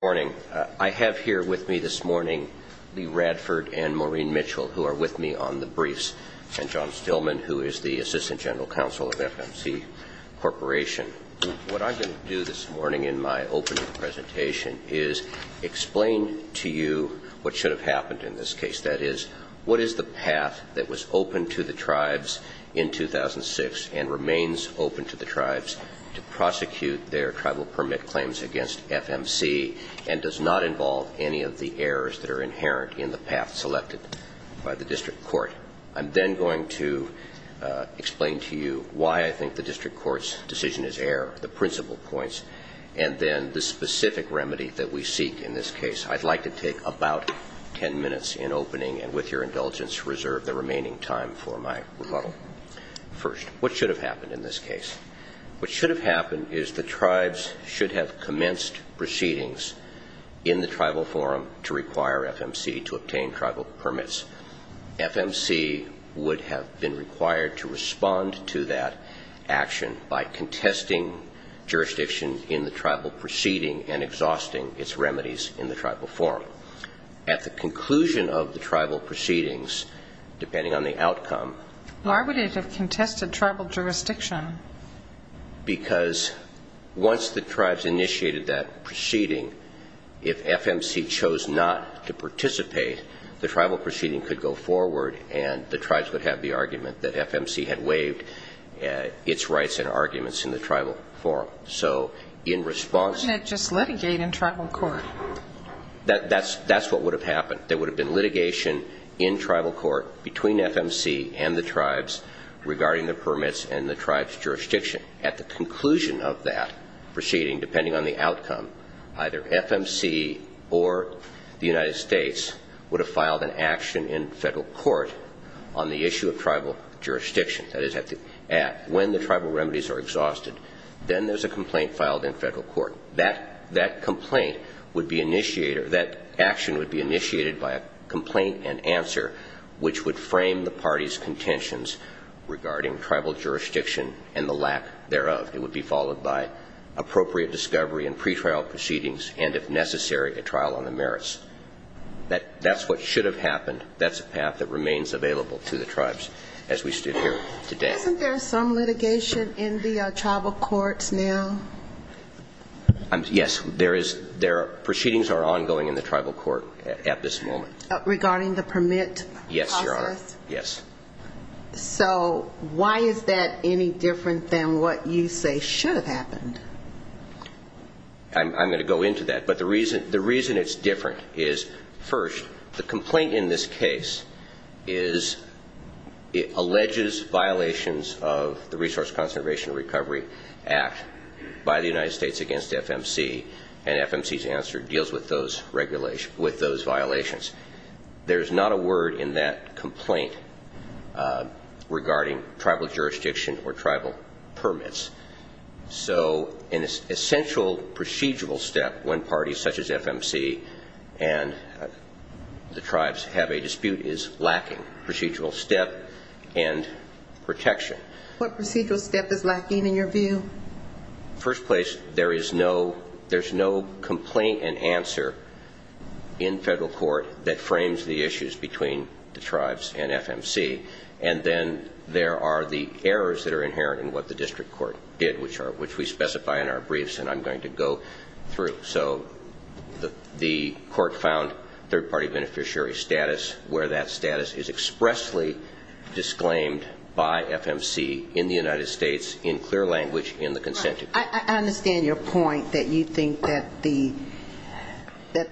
Good morning. I have here with me this morning Lee Radford and Maureen Mitchell, who are with me on the briefs, and John Stillman, who is the Assistant General Counsel of FMC Corporation. What I'm going to do this morning in my opening presentation is explain to you what should have happened in this case. That is, what is the path that was open to the tribes in 2006 and remains open to the tribes to prosecute their tribal permit claims against FMC and does not involve any of the errors that are inherent in the path selected by the district court. I'm then going to explain to you why I think the district court's decision is error, the principal points, and then the specific remedy that we seek in this case. I'd like to take about ten minutes in opening and, with your indulgence, reserve the remaining time for my rebuttal. First, what should have happened in this case? What should have happened is the tribes should have commenced proceedings in the tribal forum to require FMC to obtain tribal permits. FMC would have been required to respond to that action by contesting jurisdiction in the tribal proceeding and exhausting its remedies in the tribal forum. At the conclusion of the tribal proceedings, depending on the outcome... Why would it have contested tribal jurisdiction? Because once the tribes initiated that proceeding, if FMC chose not to participate, the tribal proceeding could go forward and the tribes would have the argument that FMC had waived its rights and arguments in the tribal forum. Wouldn't it just litigate in tribal court? That's what would have happened. There would have been litigation in tribal court between FMC and the tribes regarding the permits and the tribes' jurisdiction. At the conclusion of that proceeding, depending on the outcome, either FMC or the United States would have filed an action in federal court on the issue of tribal jurisdiction. When the tribal remedies are exhausted, then there's a complaint filed in federal court. That action would be initiated by a complaint and answer which would frame the party's contentions regarding tribal jurisdiction and the lack thereof. It would be followed by appropriate discovery and pretrial proceedings and, if necessary, a trial on the merits. That's what should have happened. That's a path that remains available to the tribes as we stood here today. Isn't there some litigation in the tribal courts now? Yes, there is. Proceedings are ongoing in the tribal court at this moment. Regarding the permit process? Yes, Your Honor, yes. So why is that any different than what you say should have happened? I'm going to go into that. But the reason it's different is, first, the complaint in this case is it alleges violations of the Resource Conservation Recovery Act by the United States against FMC, and FMC's answer deals with those violations. There's not a word in that complaint regarding tribal jurisdiction or tribal permits. So an essential procedural step when parties such as FMC and the tribes have a dispute is lacking procedural step and protection. What procedural step is lacking in your view? First place, there is no complaint and answer in federal court that frames the issues between the tribes and FMC, and then there are the errors that are inherent in what the district court did, which we specify in our briefs and I'm going to go through. So the court found third-party beneficiary status where that status is expressly disclaimed by FMC in the United States in clear language in the consent decree. I understand your point that you think that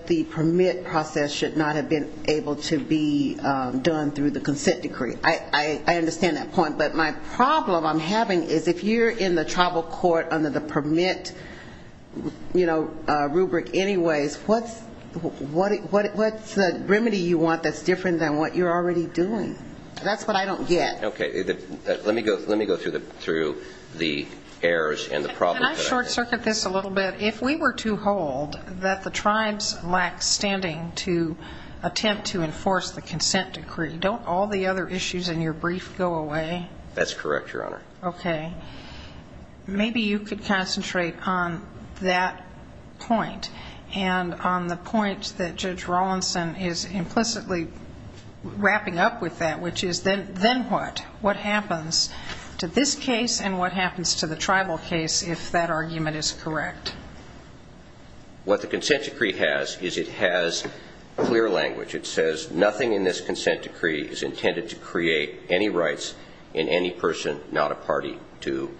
the permit process should not have been able to be done through the consent decree. I understand that point, but my problem I'm having is if you're in the tribal court under the permit, you know, rubric anyways, what's the remedy you want that's different than what you're already doing? That's what I don't get. Okay. Let me go through the errors and the problems. Can I short-circuit this a little bit? If we were to hold that the tribes lack standing to attempt to enforce the consent decree, don't all the other issues in your brief go away? That's correct, Your Honor. Okay. Maybe you could concentrate on that point and on the point that Judge Rawlinson is implicitly wrapping up with that, which is then what? What happens to this case and what happens to the tribal case if that argument is correct? What the consent decree has is it has clear language. It says nothing in this consent decree is intended to create any rights in any person, not a party, to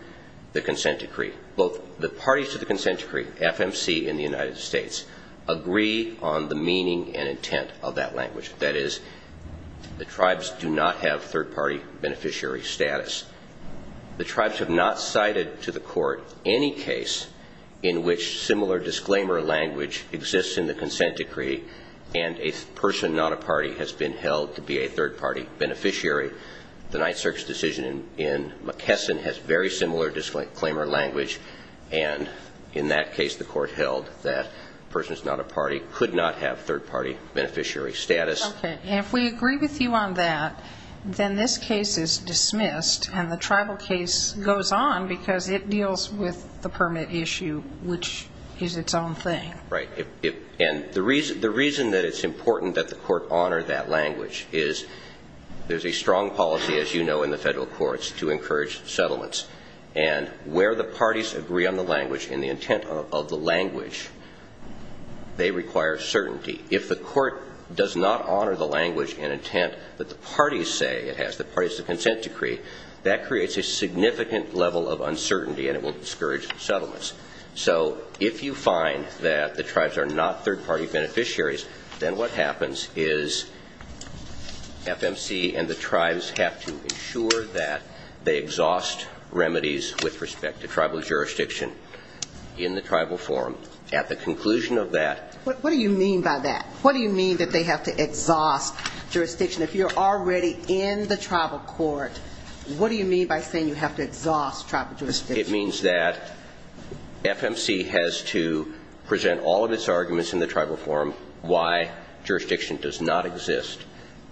the consent decree. Both the parties to the consent decree, FMC and the United States, agree on the meaning and intent of that language. That is, the tribes do not have third-party beneficiary status. The tribes have not cited to the court any case in which similar disclaimer language exists in the consent decree and a person, not a party, has been held to be a third-party beneficiary. The night search decision in McKesson has very similar disclaimer language, and in that case the court held that a person, not a party, could not have third-party beneficiary status. Okay. If we agree with you on that, then this case is dismissed and the tribal case goes on because it deals with the permit issue, which is its own thing. Right. And the reason that it's important that the court honor that language is there's a strong policy, as you know, in the federal courts to encourage settlements. And where the parties agree on the language and the intent of the language, they require certainty. If the court does not honor the language and intent that the parties say it has, the parties to the consent decree, that creates a significant level of uncertainty and it will discourage settlements. So if you find that the tribes are not third-party beneficiaries, then what happens is FMC and the tribes have to ensure that they exhaust remedies with respect to tribal jurisdiction in the tribal forum. At the conclusion of that. What do you mean by that? What do you mean that they have to exhaust jurisdiction? If you're already in the tribal court, what do you mean by saying you have to exhaust tribal jurisdiction? It means that FMC has to present all of its arguments in the tribal forum why jurisdiction does not exist.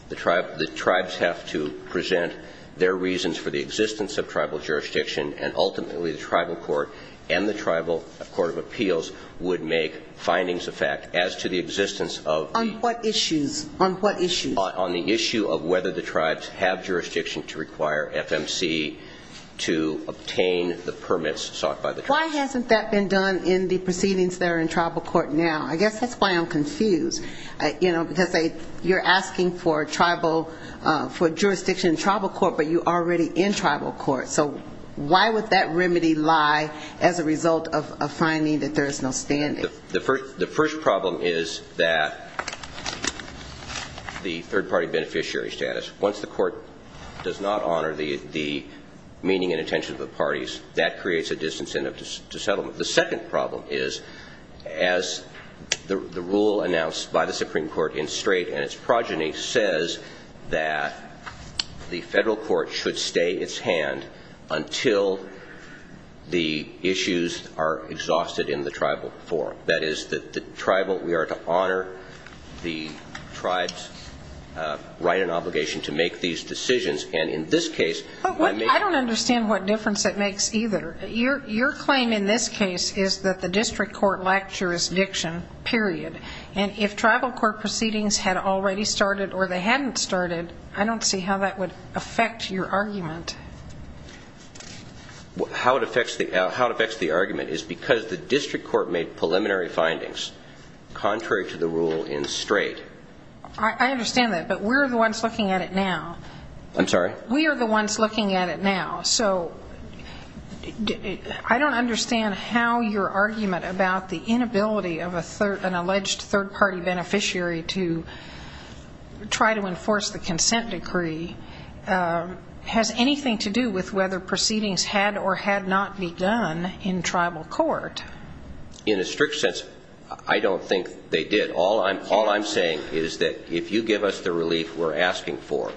The tribes have to present their reasons for the existence of tribal jurisdiction, and ultimately the tribal court and the tribal court of appeals would make findings of fact as to the existence of. On what issues? On what issues? On the issue of whether the tribes have jurisdiction to require FMC to obtain the permits sought by the tribes. Why hasn't that been done in the proceedings that are in tribal court now? I guess that's why I'm confused. You know, because you're asking for jurisdiction in tribal court, but you're already in tribal court. So why would that remedy lie as a result of finding that there is no standard? The first problem is that the third-party beneficiary status, once the court does not honor the meaning and intention of the parties, that creates a distance to settlement. The second problem is as the rule announced by the Supreme Court in Strait and its progeny says that the federal court should stay its hand until the issues are exhausted in the tribal forum. That is, we are to honor the tribes' right and obligation to make these decisions. And in this case, I may be wrong. I don't understand what difference it makes either. Your claim in this case is that the district court lacked jurisdiction, period. And if tribal court proceedings had already started or they hadn't started, I don't see how that would affect your argument. How it affects the argument is because the district court made preliminary findings contrary to the rule in Strait. I understand that, but we're the ones looking at it now. I'm sorry? We are the ones looking at it now. So I don't understand how your argument about the inability of an alleged third-party beneficiary to try to enforce the consent decree has anything to do with whether proceedings had or had not begun in tribal court. In a strict sense, I don't think they did. All I'm saying is that if you give us the relief we're asking for,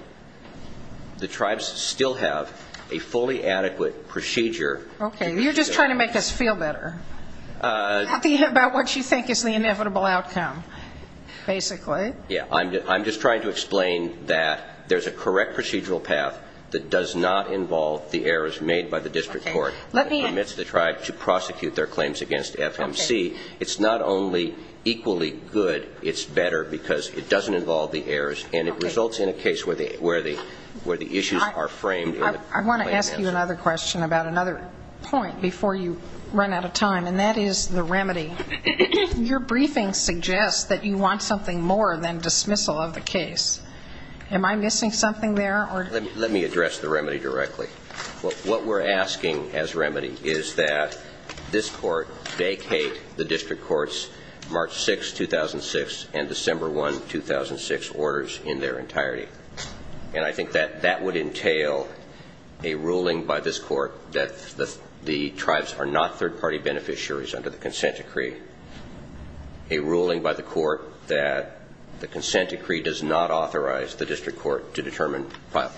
the tribes still have a fully adequate procedure. Okay. You're just trying to make us feel better about what you think is the inevitable outcome, basically. Yeah. I'm just trying to explain that there's a correct procedural path that does not involve the errors made by the district court that permits the tribe to prosecute their claims against FMC. It's not only equally good, it's better because it doesn't involve the errors and it results in a case where the issues are framed in the plaintiffs. I want to ask you another question about another point before you run out of time, and that is the remedy. Your briefing suggests that you want something more than dismissal of the case. Am I missing something there? Let me address the remedy directly. What we're asking as remedy is that this court vacate the district court's March 6, 2006, and December 1, 2006 orders in their entirety. And I think that that would entail a ruling by this court that the tribes are not third-party beneficiaries under the consent decree, a ruling by the court that the consent decree does not authorize the district court to determine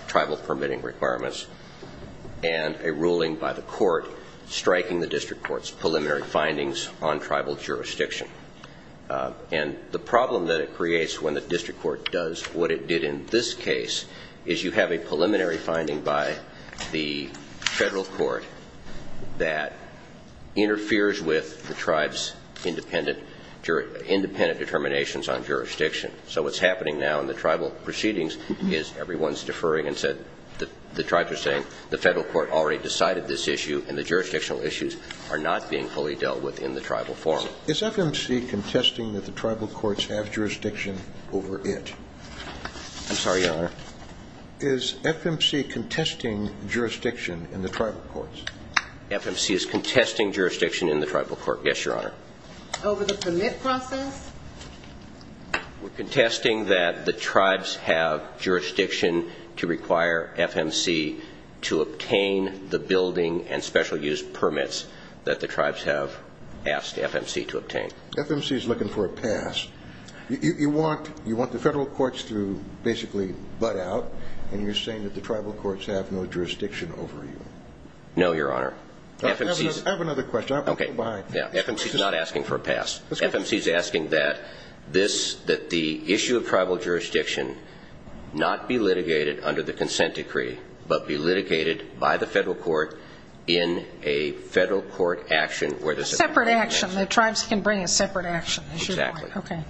tribal permitting requirements, and a ruling by the court striking the district court's preliminary findings on tribal jurisdiction. And the problem that it creates when the district court does what it did in this case is you have a preliminary finding by the federal court that interferes with the tribe's independent determinations on jurisdiction. So what's happening now in the tribal proceedings is everyone's deferring and said, the tribes are saying the federal court already decided this issue and the jurisdictional issues are not being fully dealt with in the tribal forum. Is FMC contesting that the tribal courts have jurisdiction over it? I'm sorry, Your Honor. Is FMC contesting jurisdiction in the tribal courts? FMC is contesting jurisdiction in the tribal court, yes, Your Honor. Over the permit process? We're contesting that the tribes have jurisdiction to require FMC to obtain the building and special use permits that the tribes have asked FMC to obtain. FMC is looking for a pass. You want the federal courts to basically butt out, and you're saying that the tribal courts have no jurisdiction over you. No, Your Honor. I have another question. FMC is not asking for a pass. FMC is asking that the issue of tribal jurisdiction not be litigated under the consent decree but be litigated by the federal court in a federal court action. A separate action. The tribes can bring a separate action. Exactly. Okay,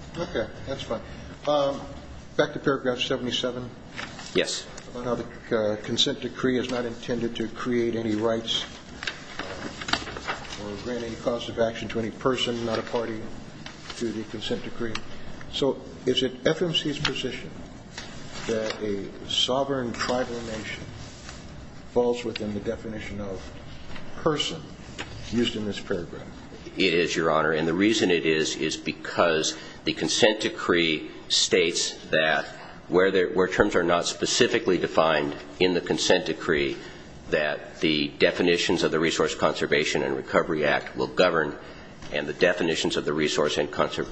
that's fine. Back to paragraph 77. Yes. About how the consent decree is not intended to create any rights or grant any cause of action to any person, not a party, to the consent decree. So is it FMC's position that a sovereign tribal nation falls within the definition of person used in this paragraph? It is, Your Honor. And the reason it is is because the consent decree states that where terms are not specifically defined in the consent decree, that the definitions of the Resource Conservation and Recovery Act will govern and the definitions of the Resource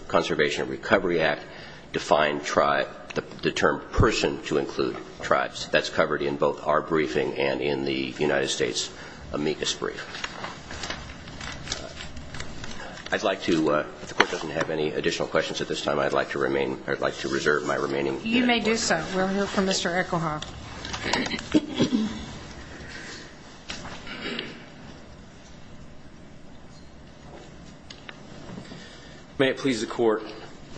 Conservation and Recovery Act define the term person to include tribes. That's covered in both our briefing and in the United States amicus brief. I'd like to, if the Court doesn't have any additional questions at this time, I'd like to reserve my remaining time. You may do so. We'll hear from Mr. Echohawk. May it please the Court.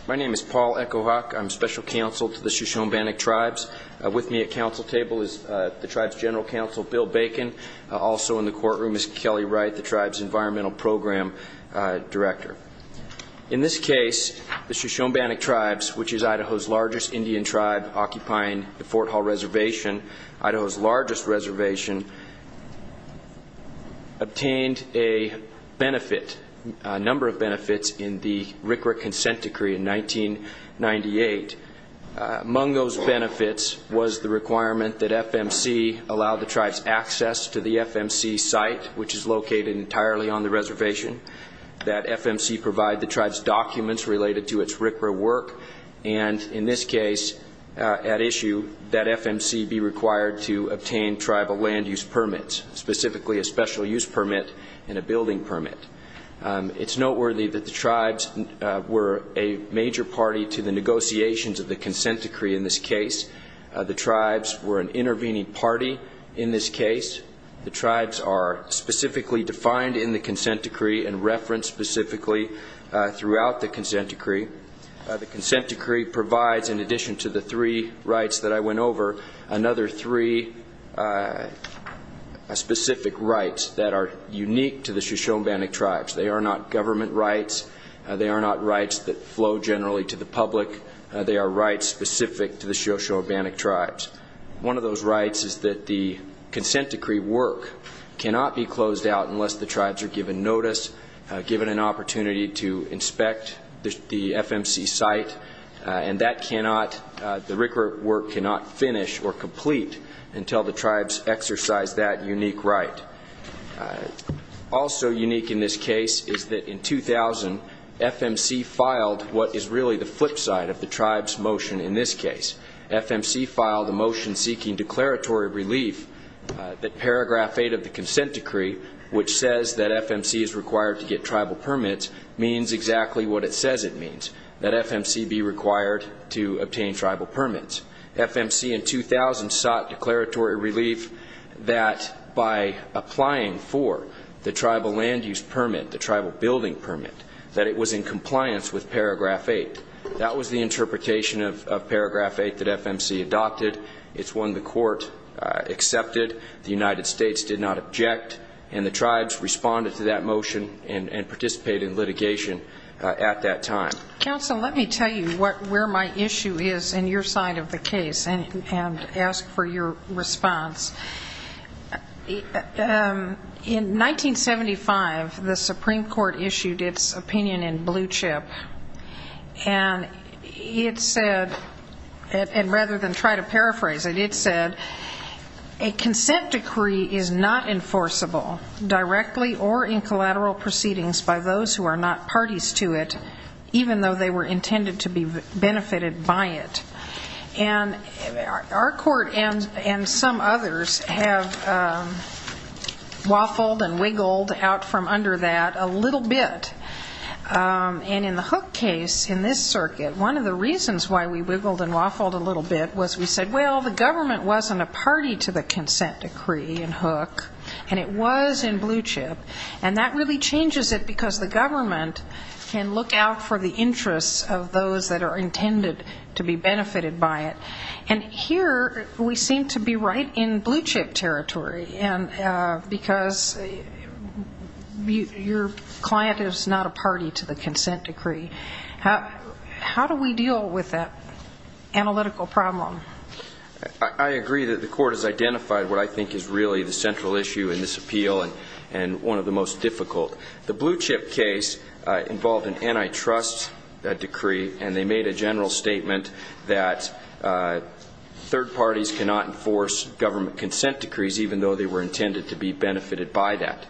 My name is Paul Echohawk. I'm special counsel to the Shoshone-Bannock tribes. With me at counsel table is the tribe's general counsel, Bill Bacon. Also in the courtroom is Kelly Wright, the tribe's environmental program director. In this case, the Shoshone-Bannock tribes, which is Idaho's largest Indian tribe occupying the Fort Hall Reservation, Idaho's largest reservation, obtained a number of benefits in the RCRA consent decree in 1998. Among those benefits was the requirement that FMC allow the tribes access to the FMC site, which is located entirely on the reservation, that FMC provide the tribes documents related to its RCRA work, and in this case, at issue, that FMC be required to obtain tribal land use permits, specifically a special use permit and a building permit. It's noteworthy that the tribes were a major party to the negotiations of the consent decree in this case. The tribes were an intervening party in this case. The tribes are specifically defined in the consent decree and referenced specifically throughout the consent decree. The consent decree provides, in addition to the three rights that I went over, another three specific rights that are unique to the Shoshone-Bannock tribes. They are not government rights. They are not rights that flow generally to the public. They are rights specific to the Shoshone-Bannock tribes. One of those rights is that the consent decree work cannot be closed out unless the tribes are given notice, given an opportunity to inspect the FMC site, and that cannot, the RCRA work cannot finish or complete until the tribes exercise that unique right. Also unique in this case is that in 2000, FMC filed what is really the flip side of the tribes motion in this case. FMC filed a motion seeking declaratory relief that paragraph 8 of the consent decree, which says that FMC is required to get tribal permits, means exactly what it says it means, that FMC be required to obtain tribal permits. FMC in 2000 sought declaratory relief that by applying for the tribal land use permit, the tribal building permit, that it was in compliance with paragraph 8. That was the interpretation of paragraph 8 that FMC adopted. It's one the court accepted, the United States did not object, and the tribes responded to that motion and participated in litigation at that time. Counsel, let me tell you where my issue is in your side of the case and ask for your response. In 1975, the Supreme Court issued its opinion in blue chip, and it said, and rather than try to paraphrase it, it said a consent decree is not enforceable directly or in collateral proceedings by those who are not parties to it, even though they were intended to be benefited by it. And our court and some others have waffled and wiggled out from under that a little bit. And in the Hook case, in this circuit, one of the reasons why we wiggled and waffled a little bit was we said, well, the government wasn't a party to the consent decree in Hook, and it was in blue chip, and that really changes it because the government can look out for the interests of those that are intended to be benefited by it. And here we seem to be right in blue chip territory, because your client is not a party to the consent decree. How do we deal with that analytical problem? I agree that the court has identified what I think is really the central issue in this appeal and one of the most difficult. The blue chip case involved an antitrust decree, and they made a general statement that third parties cannot enforce government consent decrees, even though they were intended to be benefited by that.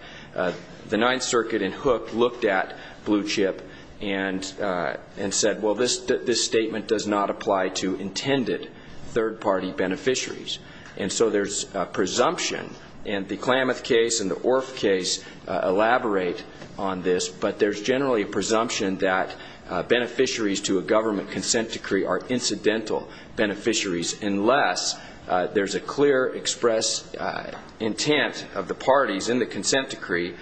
The Ninth Circuit in Hook looked at blue chip and said, well, this statement does not apply to intended third-party beneficiaries. And so there's a presumption, and the Klamath case and the Orff case elaborate on this, but there's generally a presumption that beneficiaries to a government consent decree are incidental beneficiaries unless there's a clear expressed intent of the parties in the consent decree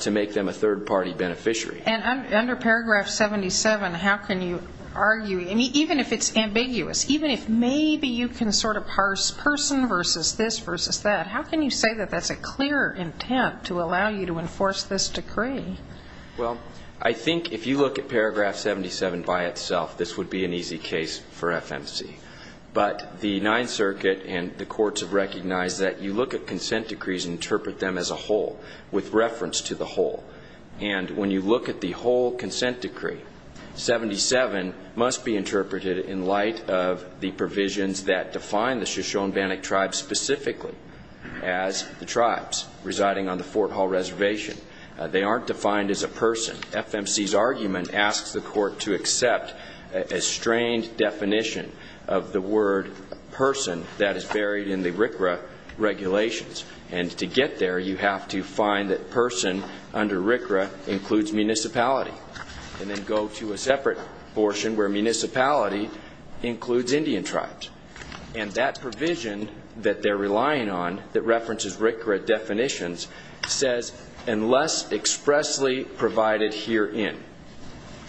to make them a third-party beneficiary. And under paragraph 77, how can you argue, even if it's ambiguous, even if maybe you can sort of parse person versus this versus that, how can you say that that's a clear intent to allow you to enforce this decree? Well, I think if you look at paragraph 77 by itself, this would be an easy case for FMC. But the Ninth Circuit and the courts have recognized that you look at consent decrees and interpret them as a whole with reference to the whole. And when you look at the whole consent decree, 77 must be interpreted in light of the provisions that define the Shoshone-Bannock tribe specifically as the tribes residing on the Fort Hall reservation. They aren't defined as a person. FMC's argument asks the court to accept a strained definition of the word person that is buried in the RCRA regulations. And to get there, you have to find that person under RCRA includes municipality and then go to a separate portion where municipality includes Indian tribes. And that provision that they're relying on that references RCRA definitions says, unless expressly provided herein.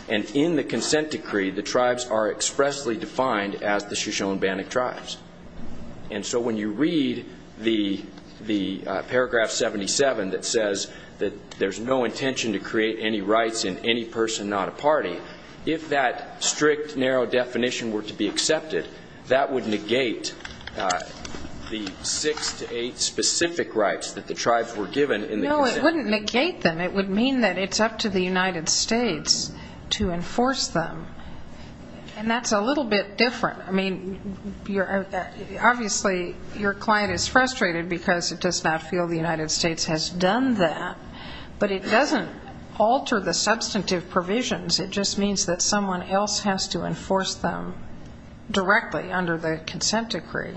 And in the consent decree, the tribes are expressly defined as the Shoshone-Bannock tribes. And so when you read the paragraph 77 that says that there's no intention to create any rights in any person, not a party, if that strict, narrow definition were to be accepted, that would negate the six to eight specific rights that the tribes were given in the consent decree. No, it wouldn't negate them. It would mean that it's up to the United States to enforce them. And that's a little bit different. I mean, obviously your client is frustrated because it does not feel the United States has done that. But it doesn't alter the substantive provisions. It just means that someone else has to enforce them directly under the consent decree.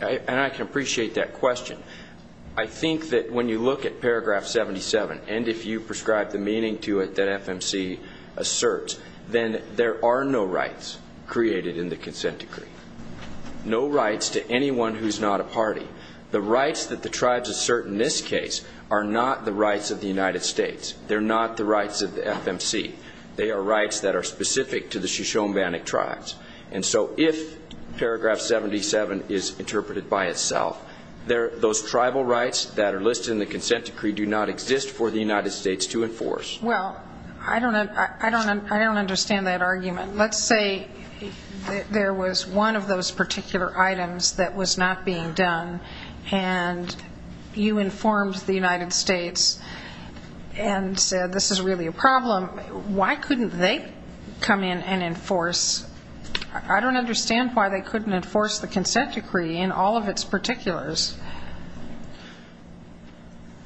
And I can appreciate that question. I think that when you look at paragraph 77 and if you prescribe the meaning to it that FMC asserts, then there are no rights created in the consent decree, no rights to anyone who's not a party. The rights that the tribes assert in this case are not the rights of the United States. They're not the rights of the FMC. They are rights that are specific to the Shoshone-Bannock tribes. And so if paragraph 77 is interpreted by itself, those tribal rights that are listed in the consent decree do not exist for the United States to enforce. Well, I don't understand that argument. Let's say there was one of those particular items that was not being done and you informed the United States and said this is really a problem. Why couldn't they come in and enforce? I don't understand why they couldn't enforce the consent decree in all of its particulars.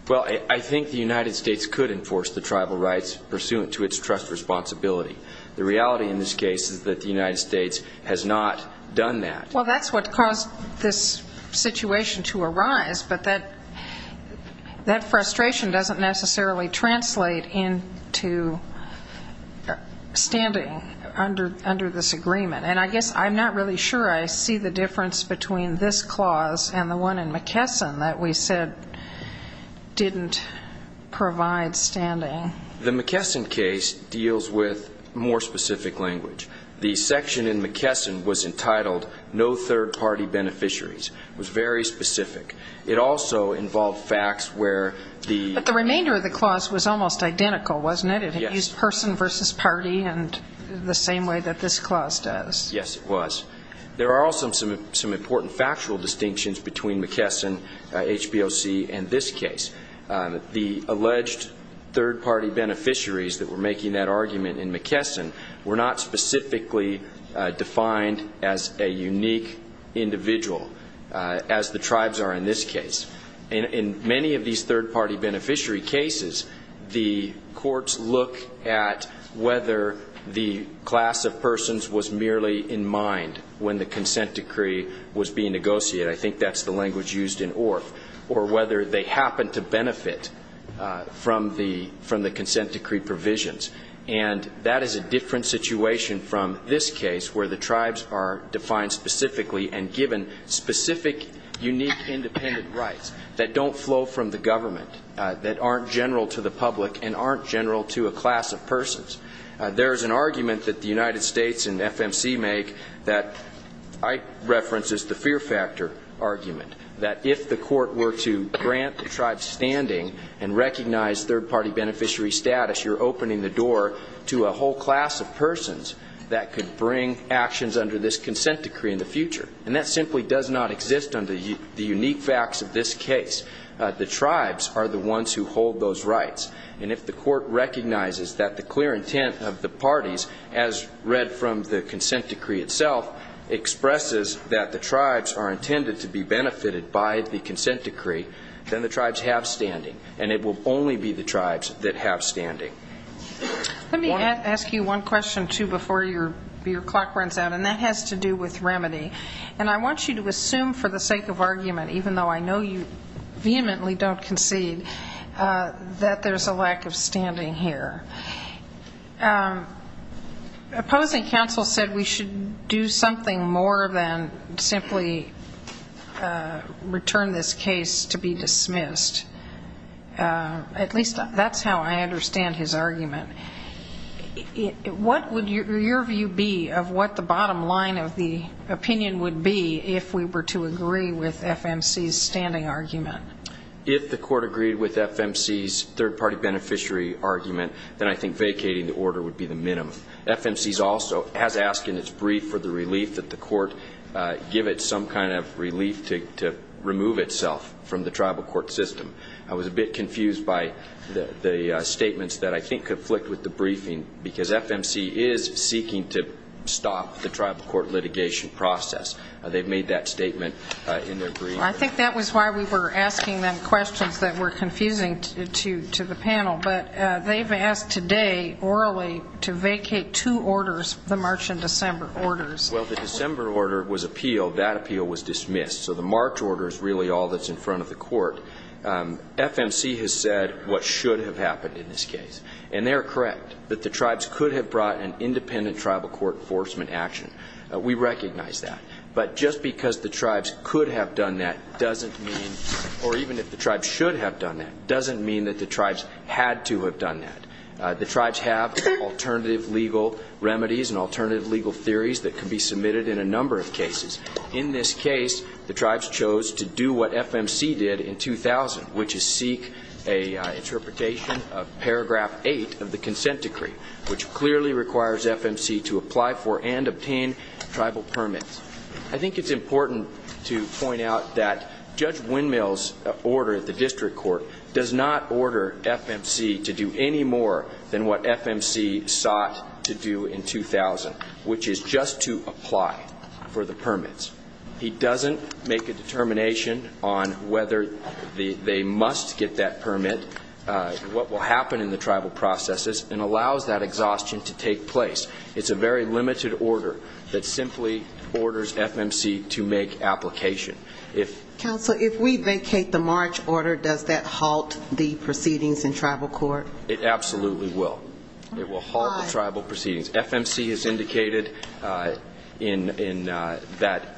Well, I think the United States could enforce the tribal rights pursuant to its trust responsibility. The reality in this case is that the United States has not done that. Well, that's what caused this situation to arise, but that frustration doesn't necessarily translate into standing under this agreement. And I guess I'm not really sure I see the difference between this clause and the one in McKesson that we said didn't provide standing. The McKesson case deals with more specific language. The section in McKesson was entitled No Third Party Beneficiaries. It was very specific. It also involved facts where the ---- But the remainder of the clause was almost identical, wasn't it? Yes. It used person versus party in the same way that this clause does. Yes, it was. There are also some important factual distinctions between McKesson, HBOC, and this case. The alleged third party beneficiaries that were making that argument in McKesson were not specifically defined as a unique individual, as the tribes are in this case. In many of these third party beneficiary cases, the courts look at whether the class of persons was merely in mind when the consent decree was being negotiated. I think that's the language used in ORF. Or whether they happened to benefit from the consent decree provisions. And that is a different situation from this case where the tribes are defined specifically and given specific unique independent rights that don't flow from the government, that aren't general to the public, and aren't general to a class of persons. There is an argument that the United States and FMC make that I reference as the fear factor argument, that if the court were to grant the tribes standing and recognize third party beneficiary status, you're opening the door to a whole class of persons that could bring actions under this consent decree in the future. And that simply does not exist under the unique facts of this case. The tribes are the ones who hold those rights. And if the court recognizes that the clear intent of the parties, as read from the consent decree itself, expresses that the tribes are intended to be benefited by the consent decree, then the tribes have standing, and it will only be the tribes that have standing. Let me ask you one question, too, before your clock runs out, and that has to do with remedy. And I want you to assume for the sake of argument, even though I know you vehemently don't concede, that there's a lack of standing here. Opposing counsel said we should do something more than simply return this case to be dismissed. At least that's how I understand his argument. What would your view be of what the bottom line of the opinion would be if we were to agree with FMC's standing argument? If the court agreed with FMC's third-party beneficiary argument, then I think vacating the order would be the minimum. FMC also has asked in its brief for the relief that the court give it some kind of relief to remove itself from the tribal court system. I was a bit confused by the statements that I think conflict with the briefing, because FMC is seeking to stop the tribal court litigation process. They've made that statement in their brief. I think that was why we were asking them questions that were confusing to the panel. But they've asked today orally to vacate two orders, the March and December orders. Well, the December order was appeal. That appeal was dismissed. So the March order is really all that's in front of the court. FMC has said what should have happened in this case. And they are correct that the tribes could have brought an independent tribal court enforcement action. We recognize that. But just because the tribes could have done that doesn't mean, or even if the tribes should have done that, doesn't mean that the tribes had to have done that. The tribes have alternative legal remedies and alternative legal theories that can be submitted in a number of cases. In this case, the tribes chose to do what FMC did in 2000, which is seek an interpretation of paragraph 8 of the consent decree, which clearly requires FMC to apply for and obtain tribal permits. I think it's important to point out that Judge Windmill's order at the district court does not order FMC to do any more than what FMC sought to do in 2000, which is just to apply for the permits. He doesn't make a determination on whether they must get that permit, what will happen in the tribal processes, and allows that exhaustion to take place. It's a very limited order that simply orders FMC to make application. Counsel, if we vacate the March order, does that halt the proceedings in tribal court? It absolutely will. It will halt the tribal proceedings. FMC has indicated that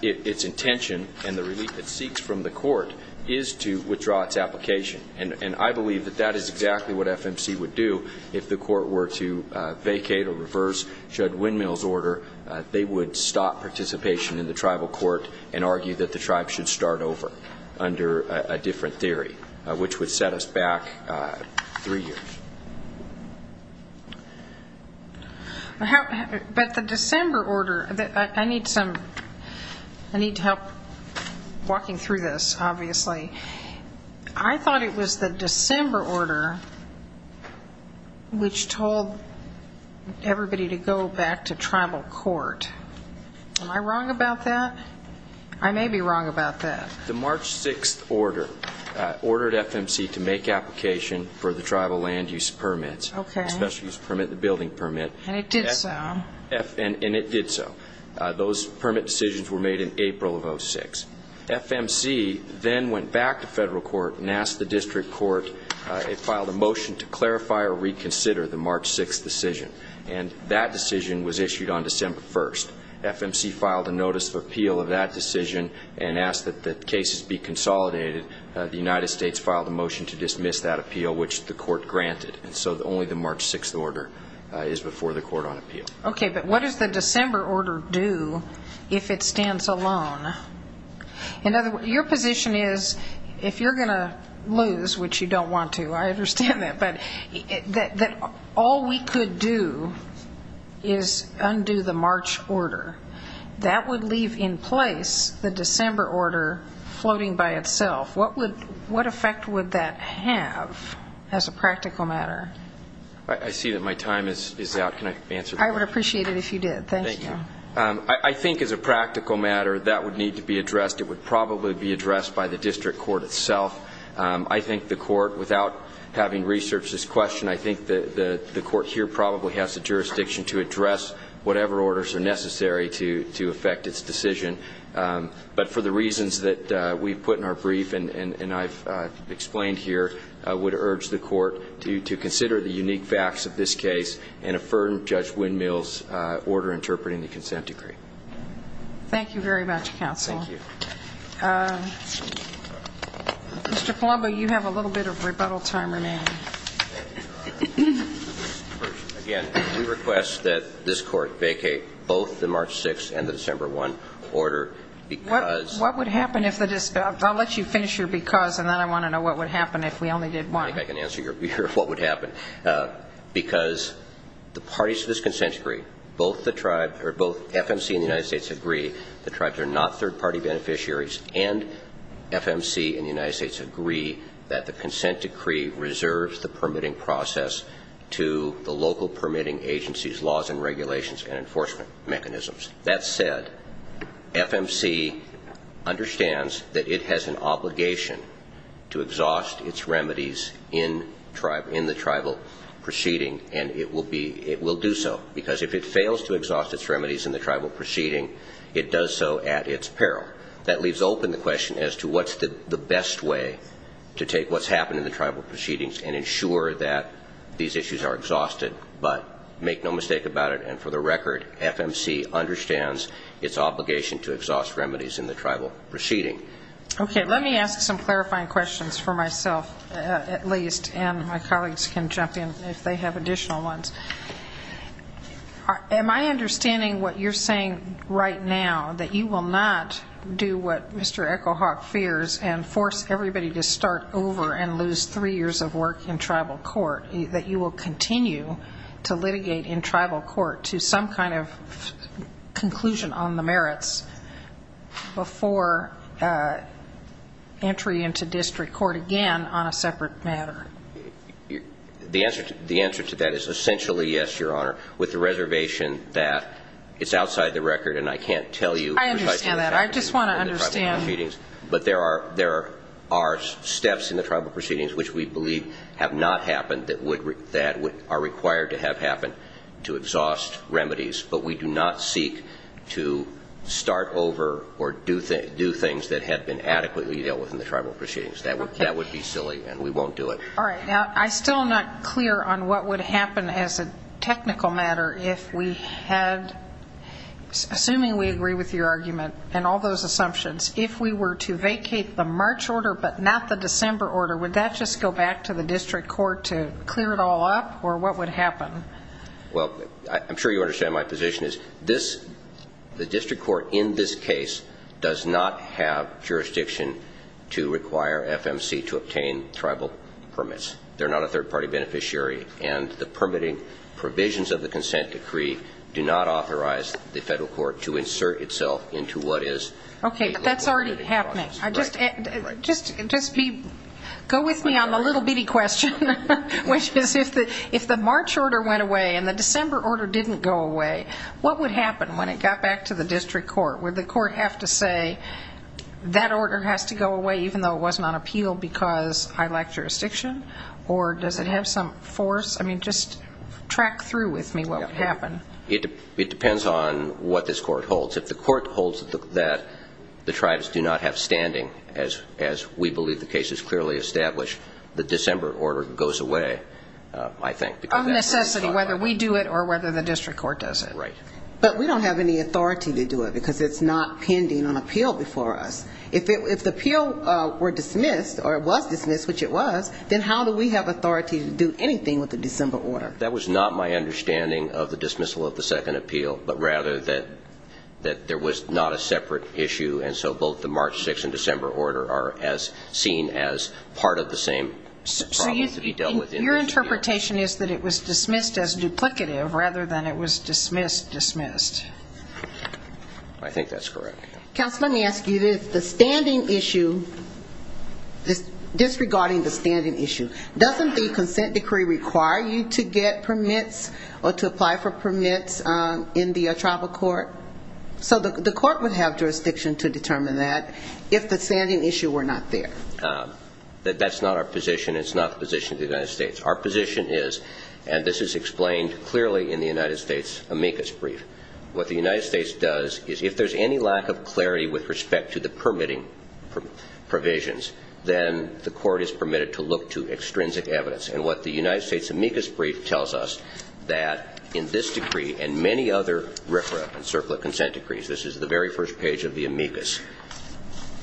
its intention and the relief it seeks from the court is to withdraw its application. And I believe that that is exactly what FMC would do. If the court were to vacate or reverse Judge Windmill's order, they would stop participation in the tribal court and argue that the tribe should start over under a different theory, which would set us back three years. But the December order, I need to help walking through this, obviously. I thought it was the December order which told everybody to go back to tribal court. Am I wrong about that? I may be wrong about that. The March 6th order ordered FMC to make application for the tribal land use permits, the special use permit, the building permit. And it did so. And it did so. Those permit decisions were made in April of 2006. FMC then went back to federal court and asked the district court, it filed a motion to clarify or reconsider the March 6th decision. And that decision was issued on December 1st. FMC filed a notice of appeal of that decision and asked that the cases be consolidated. The United States filed a motion to dismiss that appeal, which the court granted. And so only the March 6th order is before the court on appeal. Okay, but what does the December order do if it stands alone? Your position is if you're going to lose, which you don't want to, I understand that, but that all we could do is undo the March order. That would leave in place the December order floating by itself. What effect would that have as a practical matter? I see that my time is out. Can I answer that? I would appreciate it if you did. Thank you. I think as a practical matter that would need to be addressed. It would probably be addressed by the district court itself. I think the court, without having researched this question, I think the court here probably has the jurisdiction to address whatever orders are necessary to affect its decision. But for the reasons that we've put in our brief and I've explained here, I would urge the court to consider the unique facts of this case and affirm Judge Windmill's order interpreting the consent decree. Thank you very much, counsel. Thank you. Mr. Palumbo, you have a little bit of rebuttal time remaining. Again, we request that this court vacate both the March 6th and the December 1st order because I'll let you finish your because and then I want to know what would happen if we only did one. I think I can answer your what would happen because the parties to this consent decree, both the tribe or both FMC and the United States agree the tribes are not third-party beneficiaries and FMC and the United States agree that the consent decree reserves the permitting process to the local permitting agencies, laws and regulations, and enforcement mechanisms. That said, FMC understands that it has an obligation to exhaust its remedies in the tribal proceeding and it will do so because if it fails to exhaust its remedies in the tribal proceeding, it does so at its peril. That leaves open the question as to what's the best way to take what's happened in the tribal proceedings and ensure that these issues are exhausted, but make no mistake about it, and for the record, FMC understands its obligation to exhaust remedies in the tribal proceeding. Okay. Let me ask some clarifying questions for myself, at least, and my colleagues can jump in if they have additional ones. Am I understanding what you're saying right now, that you will not do what Mr. Echo Hawk fears and force everybody to start over and lose three years of work in tribal court, that you will continue to litigate in tribal court to some kind of conclusion on the merits before entry into district court again on a separate matter? The answer to that is essentially yes, Your Honor, with the reservation that it's outside the record and I can't tell you precisely what happened. I understand that. I just want to understand. But there are steps in the tribal proceedings which we believe have not happened that are required to have happened to exhaust remedies, but we do not seek to start over or do things that have been adequately dealt with in the tribal proceedings. That would be silly and we won't do it. All right. Now, I'm still not clear on what would happen as a technical matter if we had, assuming we agree with your argument and all those assumptions, if we were to vacate the March order but not the December order, would that just go back to the district court to clear it all up or what would happen? Well, I'm sure you understand my position is this, the district court in this case does not have jurisdiction to require FMC to obtain tribal permits. They're not a third-party beneficiary and the permitting provisions of the consent decree do not authorize the federal court to insert itself into what is... Okay, but that's already happening. Just go with me on the little bitty question, which is if the March order went away and the December order didn't go away, what would happen when it got back to the district court? Would the court have to say that order has to go away even though it wasn't on appeal because I lack jurisdiction or does it have some force? I mean, just track through with me what would happen. It depends on what this court holds. If the court holds that the tribes do not have standing, as we believe the case is clearly established, the December order goes away, I think. Of necessity, whether we do it or whether the district court does it. Right. But we don't have any authority to do it because it's not pending on appeal before us. If the appeal were dismissed or was dismissed, which it was, then how do we have authority to do anything with the December order? That was not my understanding of the dismissal of the second appeal, but rather that there was not a separate issue, and so both the March 6th and December order are seen as part of the same problem to be dealt with. So your interpretation is that it was dismissed as duplicative rather than it was dismissed dismissed. I think that's correct. Counsel, let me ask you, the standing issue, disregarding the standing issue, doesn't the consent decree require you to get permits or to apply for permits in the tribal court? So the court would have jurisdiction to determine that if the standing issue were not there. That's not our position. It's not the position of the United States. Our position is, and this is explained clearly in the United States amicus brief, what the United States does is if there's any lack of clarity with respect to the permitting provisions, then the court is permitted to look to extrinsic evidence. And what the United States amicus brief tells us that in this decree and many other RFRA and CERCLA consent decrees, this is the very first page of the amicus,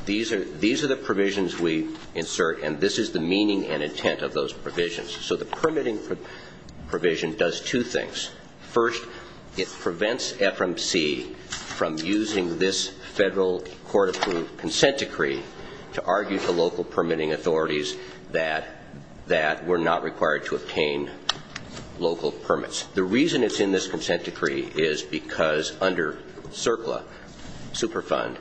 these are the provisions we insert, and this is the meaning and intent of those provisions. So the permitting provision does two things. First, it prevents FMC from using this federal court-approved consent decree to argue to local permitting authorities that we're not required to obtain local permits. The reason it's in this consent decree is because under CERCLA super fund,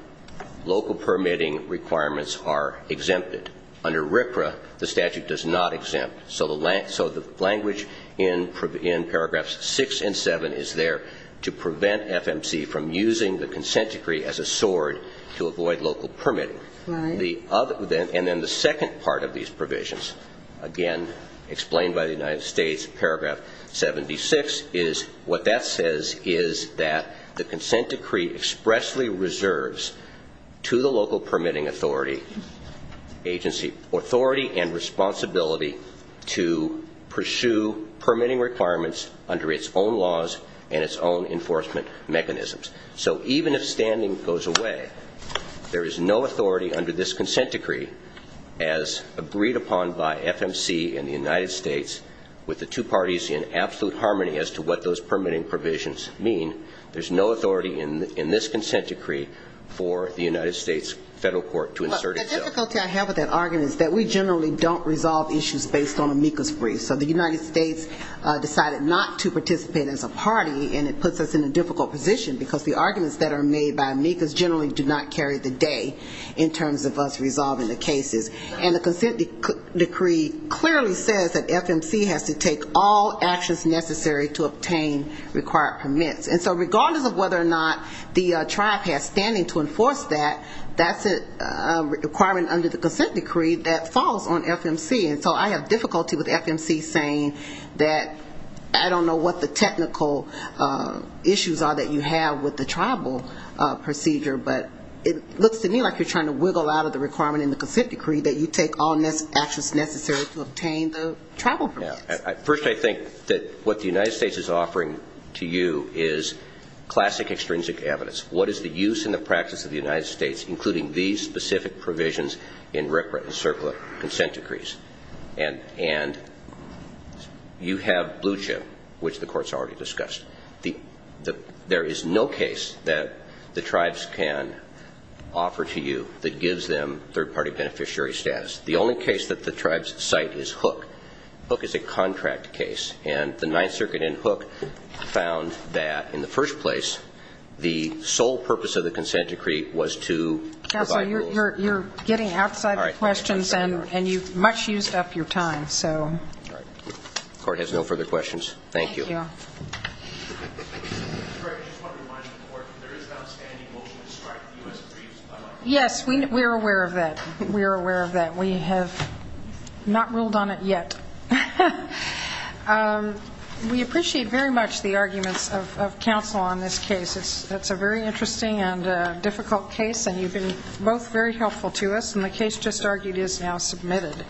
local permitting requirements are exempted. Under RFRA, the statute does not exempt. So the language in paragraphs 6 and 7 is there to prevent FMC from using the consent decree as a sword to avoid local permitting. And then the second part of these provisions, again, explained by the United States, paragraph 76, is what that says is that the consent decree expressly reserves to the local permitting authority authority and responsibility to pursue permitting requirements under its own laws and its own enforcement mechanisms. So even if standing goes away, there is no authority under this consent decree as agreed upon by FMC and the United States with the two parties in absolute harmony as to what those permitting provisions mean. There's no authority in this consent decree for the United States federal court to insert itself. The difficulty I have with that argument is that we generally don't resolve issues based on amicus briefs. So the United States decided not to participate as a party, and it puts us in a difficult position because the arguments that are made by amicus generally do not carry the day in terms of us resolving the cases. And the consent decree clearly says that FMC has to take all actions necessary to obtain required permits. And so regardless of whether or not the tribe has standing to enforce that, that's a requirement under the consent decree that falls on FMC. And so I have difficulty with FMC saying that I don't know what the technical issues are that you have with the tribal procedure, but it looks to me like you're trying to wiggle out of the requirement in the consent decree that you take all actions necessary to obtain the tribal permits. First, I think that what the United States is offering to you is classic extrinsic evidence. What is the use and the practice of the United States, including these specific provisions in RCRA and CERCLA consent decrees? And you have blue chip, which the court's already discussed. There is no case that the tribes can offer to you that gives them third-party beneficiary status. The only case that the tribes cite is Hook. Hook is a contract case, and the Ninth Circuit in Hook found that in the first place, the sole purpose of the consent decree was to provide rules. Counsel, you're getting outside the questions, and you've much used up your time. The court has no further questions. Thank you. Yes, we are aware of that. We are aware of that. We have not ruled on it yet. We appreciate very much the arguments of counsel on this case. It's a very interesting and difficult case, and you've been both very helpful to us. And the case just argued is now submitted.